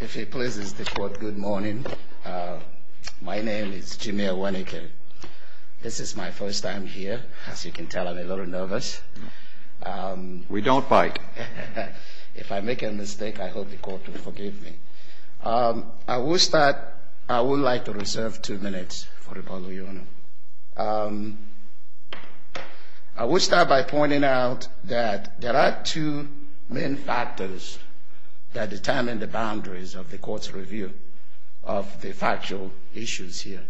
If he pleases the court, good morning. My name is Jameel Wernicke. This is my first time here. As you can tell, I'm a little nervous. We don't bite. If I make a mistake, I hope the court will forgive me. I would like to reserve two minutes for the public. I will start by pointing out that there are two main factors that determine the boundaries of the court's review of the factual issues here,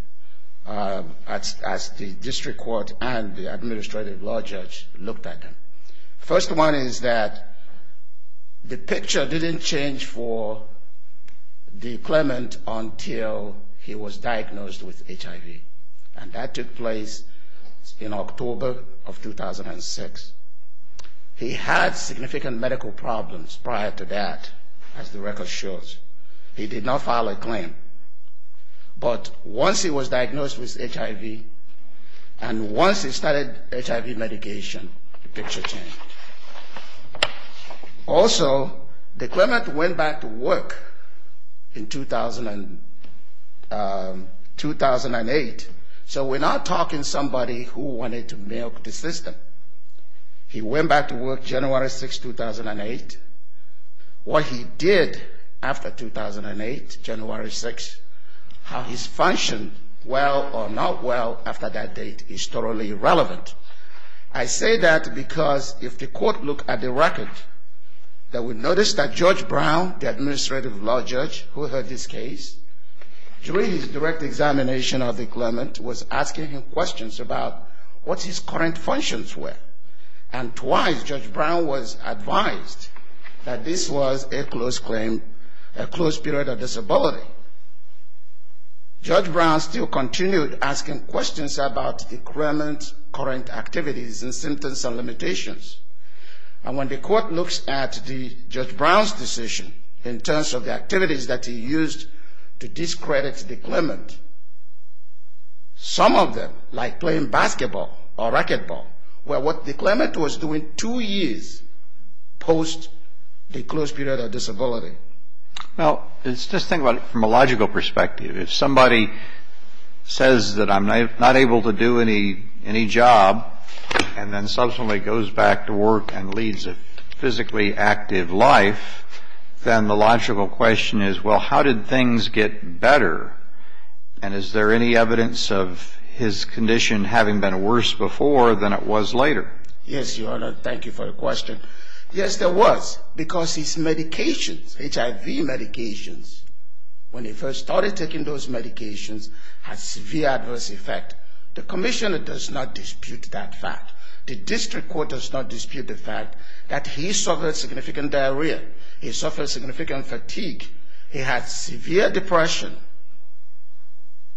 as the district court and the administrative law judge looked at them. The first one is that the picture didn't change for the claimant until he was diagnosed with HIV, and that took place in October of 2006. He had significant medical problems prior to that, as the record shows. He did not file a claim, but once he was diagnosed with HIV, and once he started HIV medication, the picture changed. Also, the claimant went back to work in 2008, so we're not talking somebody who wanted to milk the system. He went back to work January 6, 2008. What he did after 2008, January 6, how he's functioned well or not well after that date is totally irrelevant. I say that because if the court looked at the record, they would notice that Judge Brown, the administrative law judge who heard this case, during his direct examination of the claimant was asking him questions about what his current functions were, and twice Judge Brown was advised that this was a close period of disability. Judge Brown still continued asking questions about the claimant's current activities and symptoms and limitations, and when the court looks at Judge Brown's decision in terms of the activities that he used to discredit the claimant, some of them, like playing basketball or racquetball, were what the claimant was doing two years post the close period of disability. Well, let's just think about it from a logical perspective. If somebody says that I'm not able to do any job, and then subsequently goes back to work and leads a physically active life, then the logical question is, well, how did things get better, and is there any evidence of his condition having been worse before than it was later? Yes, Your Honor, thank you for your question. Yes, there was, because his medications, HIV medications, when he first started taking those medications, had severe adverse effect. The commission does not dispute that fact. The district court does not dispute the fact that he suffered significant diarrhea. He suffered significant fatigue. He had severe depression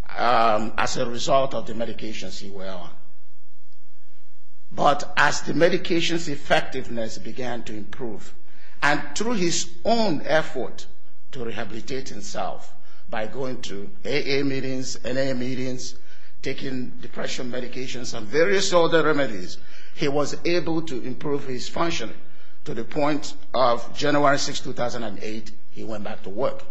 as a result of the medications he was on. But as the medications effectiveness began to improve, and through his own effort to rehabilitate himself by going to AA meetings, NA meetings, taking depression medications and various other remedies, he was able to improve his function to the point of January 6, 2008, he went back to work.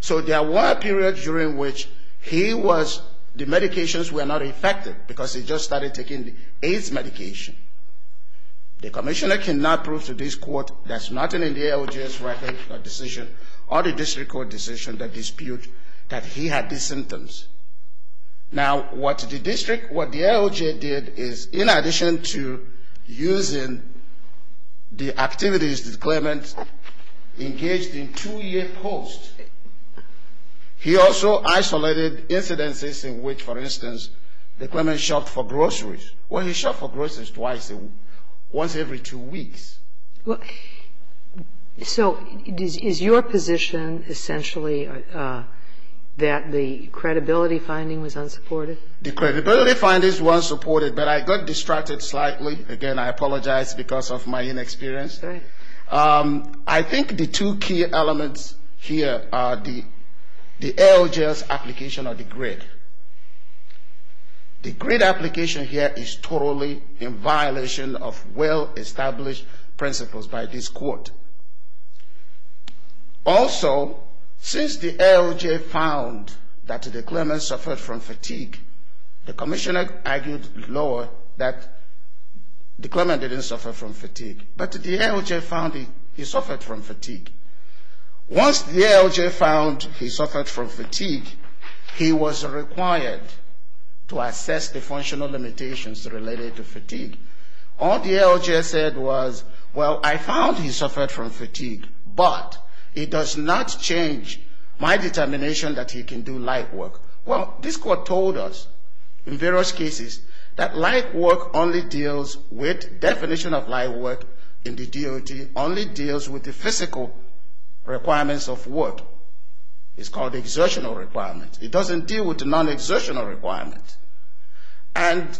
So there was a period during which he was, the medications were not effective because he just started taking the AIDS medication. The commissioner cannot prove to this court that's nothing in the ALJ's record or decision or the district court decision that dispute that he had these symptoms. Now, what the district, what the ALJ did is, in addition to using the activities, the claimants engaged in two-year posts, he also isolated incidences in which, for instance, the claimant shopped for groceries. Well, he shopped for groceries twice, once every two weeks. So is your position essentially that the credibility finding was unsupported? The credibility findings were unsupported, but I got distracted slightly. Again, I apologize because of my inexperience. I think the two key elements here are the ALJ's application of the grid. The grid application here is totally in violation of well-established principles by this court. Also, since the ALJ found that the claimant suffered from fatigue, the commissioner argued lower that the claimant didn't suffer from fatigue. But the ALJ found he suffered from fatigue. Once the ALJ found he suffered from fatigue, he was required to assess the functional limitations related to fatigue. All the ALJ said was, well, I found he suffered from fatigue, but it does not change my determination that he can do light work. Well, this court told us in various cases that light work only deals with definition of light work in the DOT, only deals with the physical requirements of work. It's called the exertional requirement. It doesn't deal with the non-exertional requirement. And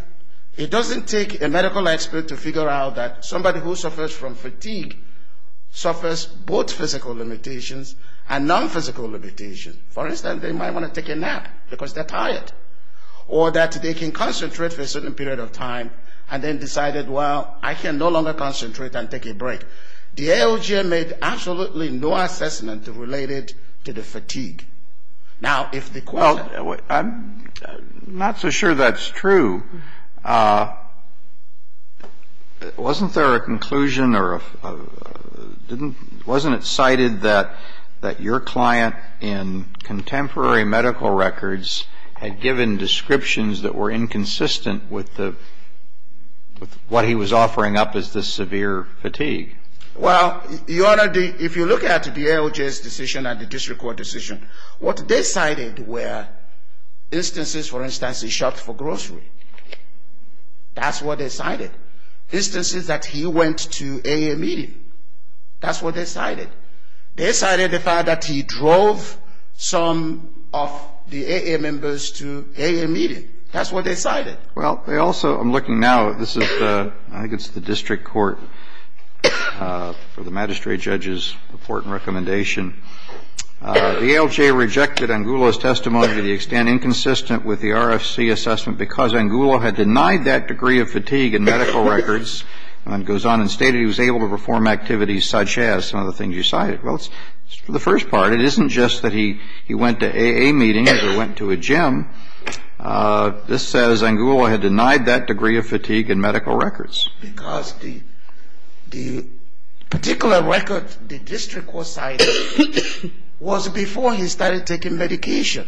it doesn't take a medical expert to figure out that somebody who suffers from fatigue suffers both physical limitations and non-physical limitations. For instance, they might want to take a nap because they're tired, or that they can concentrate for a certain period of time and then decided, well, I can no longer concentrate and take a break. The ALJ made absolutely no assessment related to the fatigue. Now, if the court... Well, I'm not so sure that's true. Wasn't there a conclusion or a... Wasn't it cited that your client in contemporary medical records had given descriptions that were inconsistent with what he was offering up as the severe fatigue? Well, Your Honor, if you look at the ALJ's decision and the district court decision, what they cited were instances, for instance, he shopped for grocery. That's what they cited. Instances that he went to AA meeting. That's what they cited. They cited the fact that he drove some of the AA members to AA meeting. That's what they cited. Well, they also... I'm looking now. This is the... I think it's the district court for the magistrate judge's important recommendation. The ALJ rejected Angulo's testimony to the extent inconsistent with the RFC assessment because Angulo had denied that degree of fatigue in medical records and goes on and stated he was able to perform activities such as some of the things you cited. Well, for the first part, it isn't just that he went to AA meeting or went to a gym. This says Angulo had denied that degree of fatigue in medical records. Because the particular record the district court cited was before he started taking medication.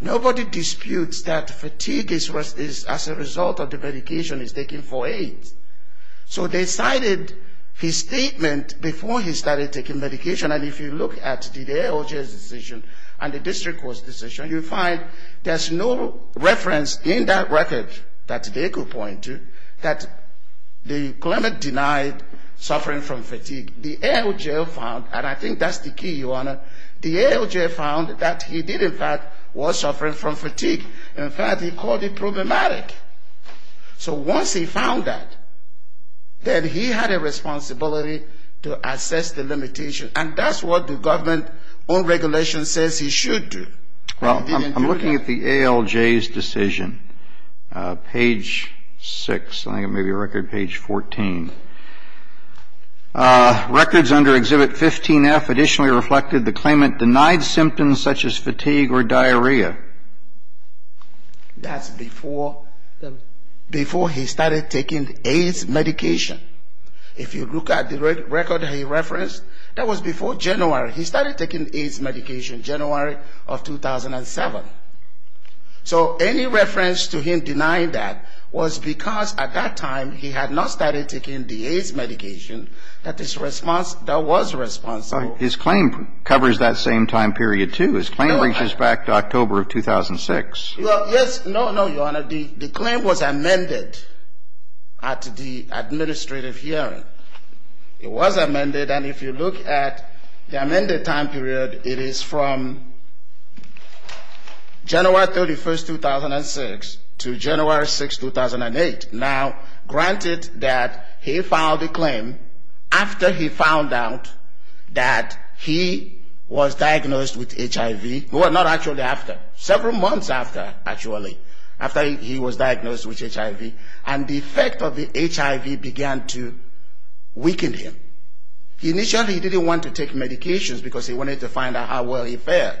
Nobody disputes that fatigue is a result of the medication he's taking for AIDS. So they cited his statement before he started taking medication, and if you look at the ALJ's decision and the district court's decision, you'll find there's no reference in that record that they could point to that the claimant denied suffering from fatigue. The ALJ found, and I think that's the key, Your Honor, the ALJ found that he did in fact was suffering from fatigue. In fact, he called it problematic. So once he found that, then he had a responsibility to assess the limitation, and that's what the government on regulation says he should do. Well, I'm looking at the ALJ's decision. Page 6, I think it may be record page 14. Records under Exhibit 15F additionally reflected the claimant denied symptoms such as fatigue or diarrhea. That's before he started taking AIDS medication. If you look at the record he referenced, that was before January. He started taking AIDS medication January of 2007. So any reference to him denying that was because at that time he had not started taking the AIDS medication that was responsible. His claim covers that same time period too. His claim reaches back to October of 2006. Well, yes, no, no, Your Honor. The claim was amended at the administrative hearing. It was amended, and if you look at the amended time period, it is from January 31, 2006 to January 6, 2008. Now, granted that he filed the claim after he found out that he was diagnosed with HIV, well, not actually after, several months after actually, after he was diagnosed with HIV, and the effect of the HIV began to weaken him. Initially he didn't want to take medications because he wanted to find out how well he felt.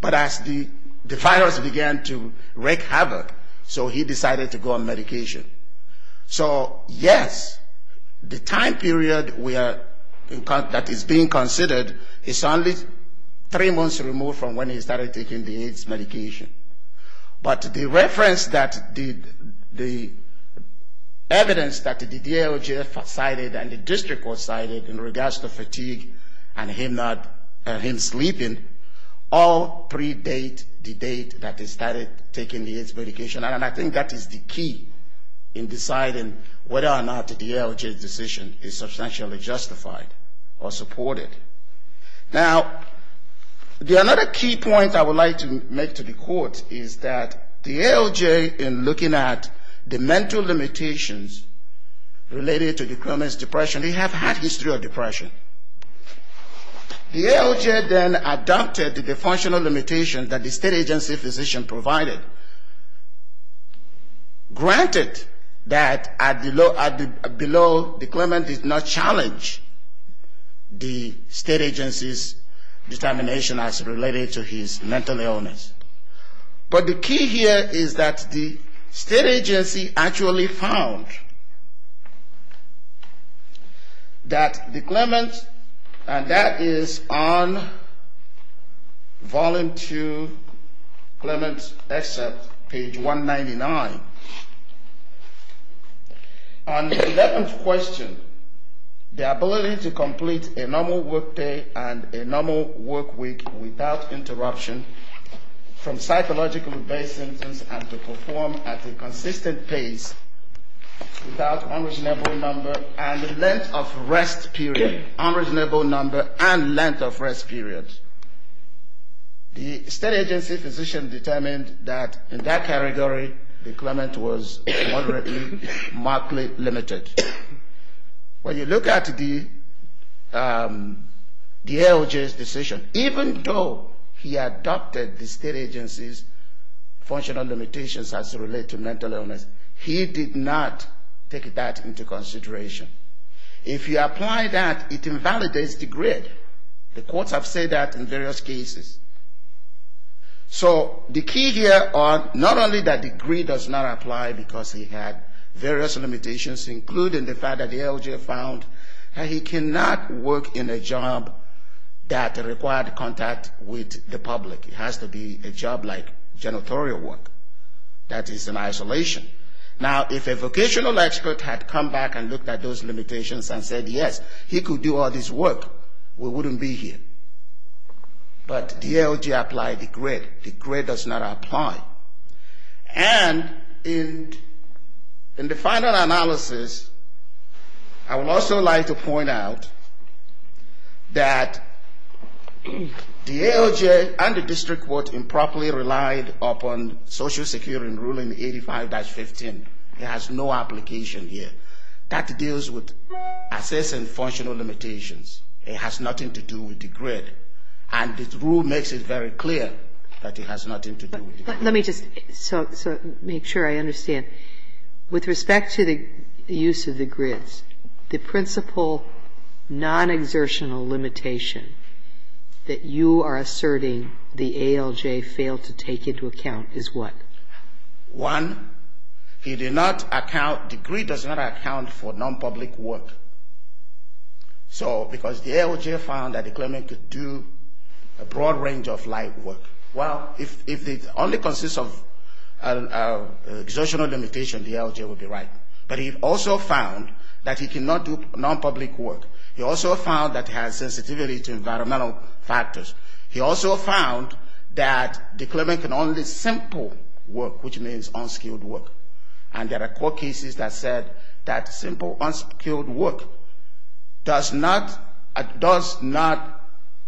But as the virus began to wreak havoc, so he decided to go on medication. So, yes, the time period that is being considered is only three months removed from when he started taking the AIDS medication. But the reference that the evidence that the DALJ cited and the district court cited in regards to fatigue and him not, him sleeping, all predate the date that he started taking the AIDS medication. And I think that is the key in deciding whether or not the DALJ's decision is substantially justified or supported. Now, another key point I would like to make to the court is that the DALJ, in looking at the mental limitations related to the Clement's depression, they have had history of depression. The DALJ then adopted the functional limitations that the state agency physician provided. Granted that below, the Clement did not challenge the state agency's determination as related to his mental illness. But the key here is that the state agency actually found that the Clement, and that is on volume two, Clement's excerpt, page 199. On the 11th question, the ability to complete a normal work day and a normal work week without interruption from psychological-based symptoms and to perform at a consistent pace without unreasonable number and length of rest period, unreasonable number and length of rest period. The state agency physician determined that in that category, the Clement was moderately, markedly limited. When you look at the DALJ's decision, even though he adopted the state agency's functional limitations as related to mental illness, he did not take that into consideration. If you apply that, it invalidates the grid. The courts have said that in various cases. So the key here are not only that the grid does not apply because he had various limitations, including the fact that the DALJ found that he cannot work in a job that required contact with the public. It has to be a job like janitorial work. That is in isolation. Now, if a vocational expert had come back and looked at those limitations and said, yes, he could do all this work, we wouldn't be here. But DALJ applied the grid. The grid does not apply. And in the final analysis, I would also like to point out that DALJ and the district court improperly relied upon social security in ruling 85-15. It has no application here. That deals with assessing functional limitations. It has nothing to do with the grid. And the rule makes it very clear that it has nothing to do with the grid. But let me just make sure I understand. With respect to the use of the grids, the principal non-exertional limitation that you are asserting the ALJ failed to take into account is what? One, he did not account the grid does not account for non-public work. So because the ALJ found that the claimant could do a broad range of light work. Well, if it only consists of exertional limitation, the ALJ would be right. But he also found that he cannot do non-public work. He also found that he has sensitivity to environmental factors. He also found that the claimant can only simple work, which means unskilled work. And there are court cases that said that simple, unskilled work does not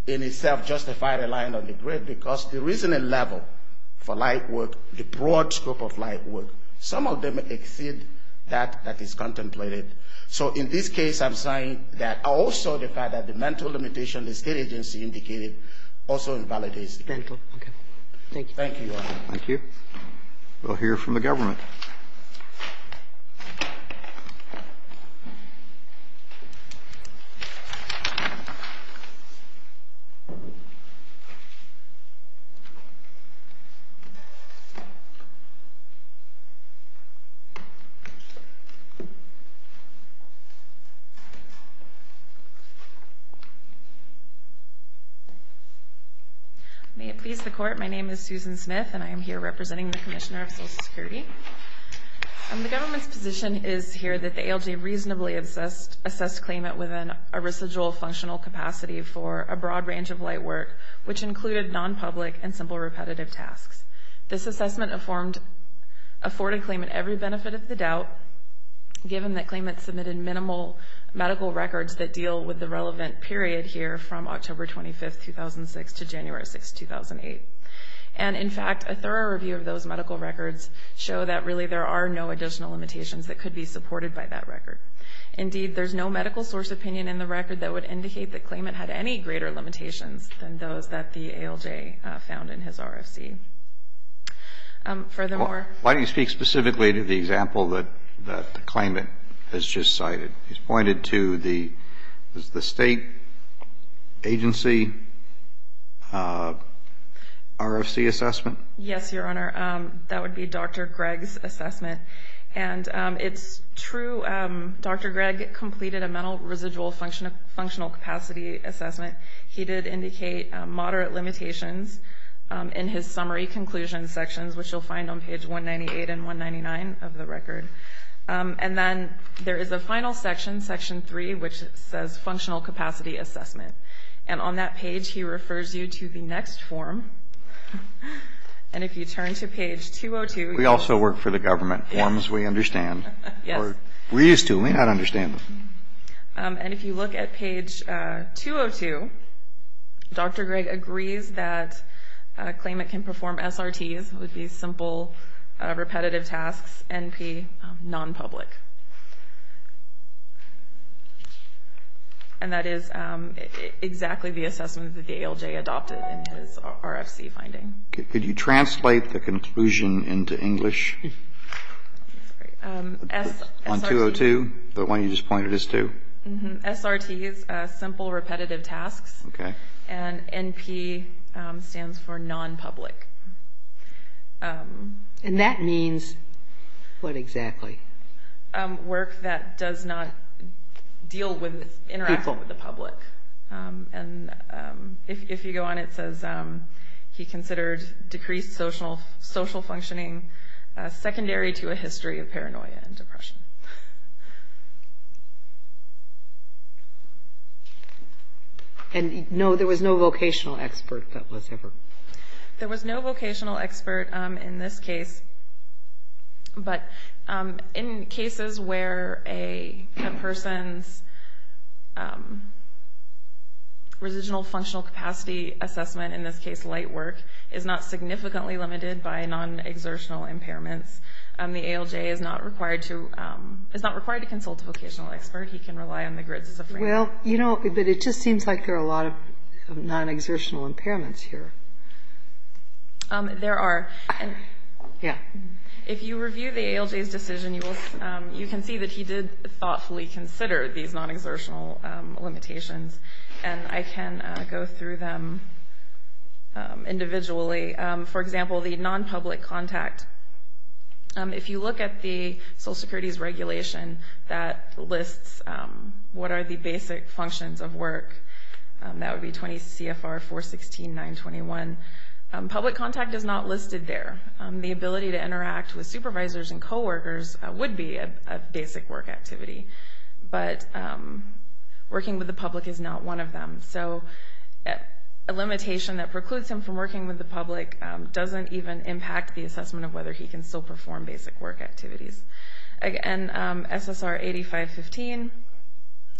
in itself justify relying on the grid because there isn't a level for light work, the broad scope of light work. Some of them exceed that that is contemplated. So in this case, I'm saying that also the fact that the mental limitation the state agency indicated also invalidates the claim. Thank you. Thank you. We'll hear from the government. May it please the Court. My name is Susan Smith, and I am here representing the Commissioner of Social Security. The government's position is here that the ALJ reasonably assessed claimant within a residual functional capacity for a broad range of light work, which included non-public and simple repetitive tasks. This assessment afforded claimant every benefit of the doubt, given that claimant submitted minimal medical records that deal with the relevant period here from October 25, 2006 to January 6, 2008. And, in fact, a thorough review of those medical records show that, really, there are no additional limitations that could be supported by that record. Indeed, there's no medical source opinion in the record that would indicate that claimant had any greater limitations than those that the ALJ found in his RFC. Furthermore ---- Why don't you speak specifically to the example that the claimant has just cited? He's pointed to the state agency RFC assessment. Yes, Your Honor. That would be Dr. Gregg's assessment. And it's true Dr. Gregg completed a mental residual functional capacity assessment. He did indicate moderate limitations in his summary conclusion sections, which you'll find on page 198 and 199 of the record. And then there is a final section, section 3, which says functional capacity assessment. And on that page he refers you to the next form. And if you turn to page 202 ---- We also work for the government. Forms we understand. We're used to them. We may not understand them. And if you look at page 202, Dr. Gregg agrees that claimant can perform SRTs, which would be simple repetitive tasks, NP, nonpublic. And that is exactly the assessment that the ALJ adopted in his RFC finding. Could you translate the conclusion into English? On 202, the one you just pointed us to? SRTs, simple repetitive tasks. Okay. And NP stands for nonpublic. And that means what exactly? Work that does not deal with interacting with the public. And if you go on it says he considered decreased social functioning secondary to a history of paranoia and depression. And no, there was no vocational expert that was ever ---- There was no vocational expert in this case, but in cases where a person's residual functional capacity assessment, in this case light work, is not significantly limited by non-exertional impairments, the ALJ is not required to consult a vocational expert. He can rely on the GRIDS as a framework. Well, you know, but it just seems like there are a lot of non-exertional impairments here. There are. Yeah. If you review the ALJ's decision, you can see that he did thoughtfully consider these non-exertional limitations, and I can go through them individually. For example, the nonpublic contact. If you look at the Social Security's regulation that lists what are the basic functions of work, that would be 20 CFR 416.921. Public contact is not listed there. The ability to interact with supervisors and coworkers would be a basic work activity, but working with the public is not one of them. So a limitation that precludes him from working with the public doesn't even impact the assessment of whether he can still perform basic work activities. Again, SSR 8515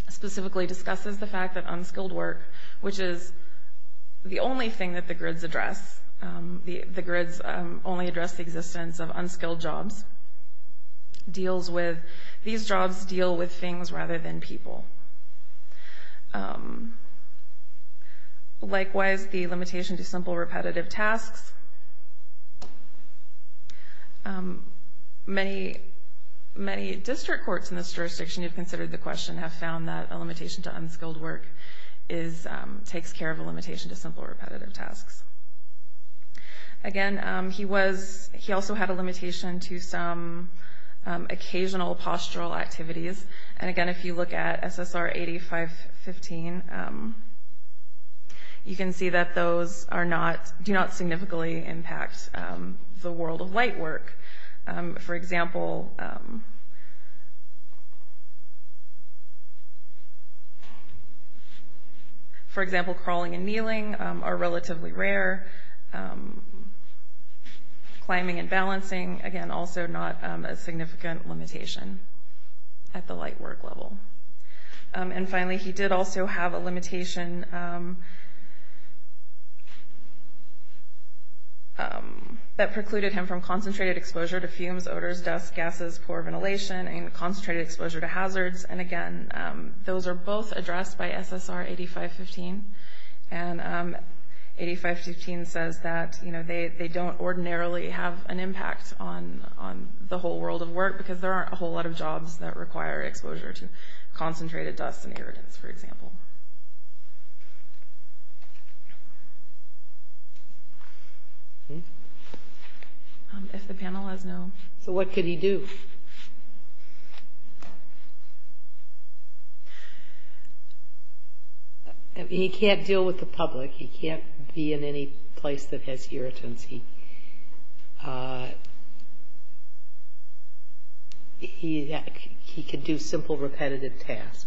specifically discusses the fact that unskilled work, which is the only thing that the GRIDS address, the GRIDS only address the existence of unskilled jobs, deals with, these jobs deal with things rather than people. Likewise, the limitation to simple repetitive tasks. Many district courts in this jurisdiction, if you've considered the question, have found that a limitation to unskilled work takes care of a limitation to simple repetitive tasks. Again, he also had a limitation to some occasional postural activities. And again, if you look at SSR 8515, you can see that those do not significantly impact the world of light work. For example, crawling and kneeling are relatively rare. Climbing and balancing, again, also not a significant limitation at the light work level. And finally, he did also have a limitation that precluded him from concentrated exposure to fumes, odors, dust, gases, poor ventilation, and concentrated exposure to hazards. And again, those are both addressed by SSR 8515. And 8515 says that they don't ordinarily have an impact on the whole world of work because there aren't a whole lot of jobs that require exposure to concentrated dust and irritants, for example. If the panel has no... So what could he do? He can't be in any place that has irritants. He could do simple repetitive tasks.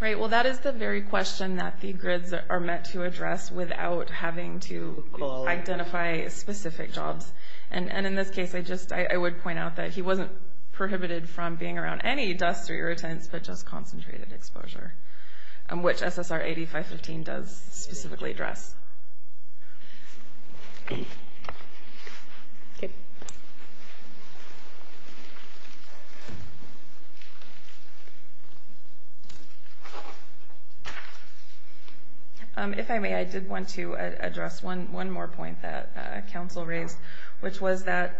Right, well, that is the very question that the GRIDs are meant to address without having to identify specific jobs. And in this case, I would point out that he wasn't prohibited from being around any dust or irritants but just concentrated exposure, which SSR 8515 does specifically address. If I may, I did want to address one more point that Council raised, which was that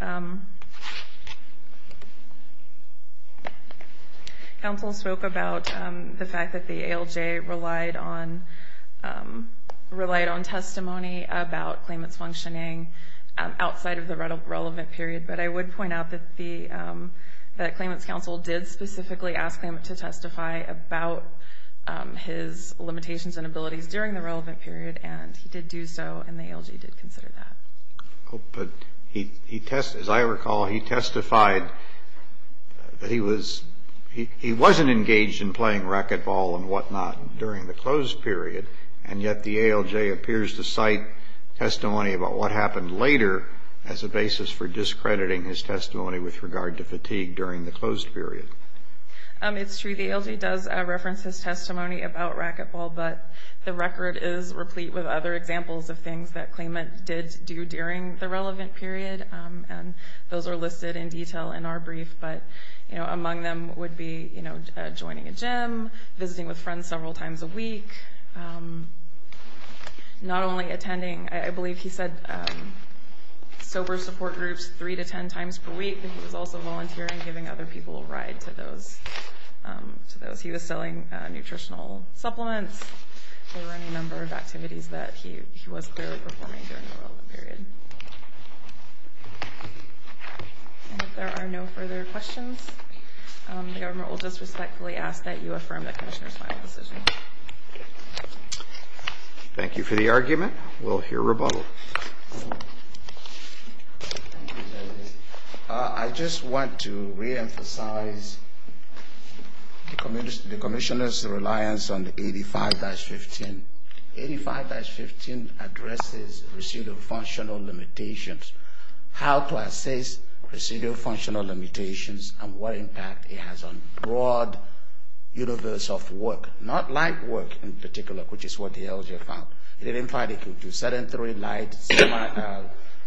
Council spoke about the fact that the ALJ relied on testimony about claimants functioning outside of the relevant period, but I would point out that the Claimants Council did specifically ask him to testify about his limitations and abilities during the relevant period, and he did do so, and the ALJ did consider that. But as I recall, he testified that he wasn't engaged in playing racquetball and whatnot during the closed period, and yet the ALJ appears to cite testimony about what happened later as a basis for discrediting his testimony with regard to fatigue during the closed period. It's true, the ALJ does reference his testimony about racquetball, but the record is replete with other examples of things that claimant did do during the relevant period, and those are listed in detail in our brief, but among them would be joining a gym, visiting with friends several times a week, not only attending, I believe he said, sober support groups three to ten times per week, but he was also volunteering, giving other people a ride to those. He was selling nutritional supplements, or any number of activities that he was clearly performing during the relevant period. And if there are no further questions, the government will just respectfully ask that you affirm that Commissioner's final decision. Thank you for the argument. We'll hear rebuttal. Thank you, Justice. I just want to reemphasize the Commissioner's reliance on the 85-15. 85-15 addresses procedural functional limitations, how to assess procedural functional limitations, and what impact it has on the broad universe of work, not light work in particular, which is what the ALJ found. It implied it could do sedentary, light,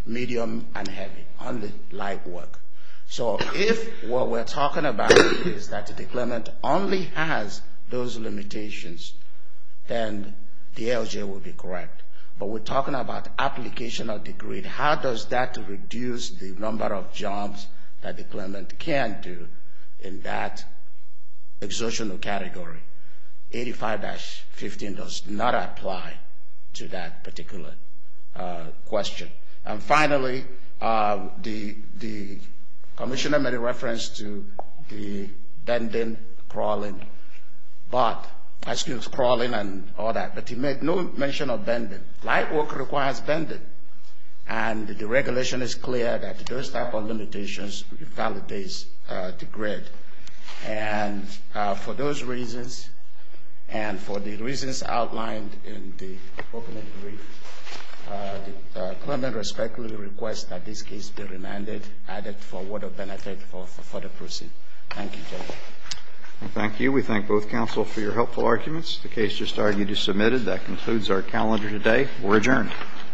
medium, and heavy, only light work. So if what we're talking about is that the claimant only has those limitations, then the ALJ would be correct. But we're talking about application of the grid. How does that reduce the number of jobs that the claimant can do in that exertional category? 85-15 does not apply to that particular question. And finally, the Commissioner made a reference to the bending, crawling, and all that. But he made no mention of bending. Light work requires bending. And the regulation is clear that those type of limitations invalidates the grid. And for those reasons, and for the reasons outlined in the opening brief, the claimant respectfully requests that this case be remanded added for word of benefit for further proceeding. Thank you, Judge. Thank you. We thank both counsel for your helpful arguments. The case just argued is submitted. That concludes our calendar today. We're adjourned.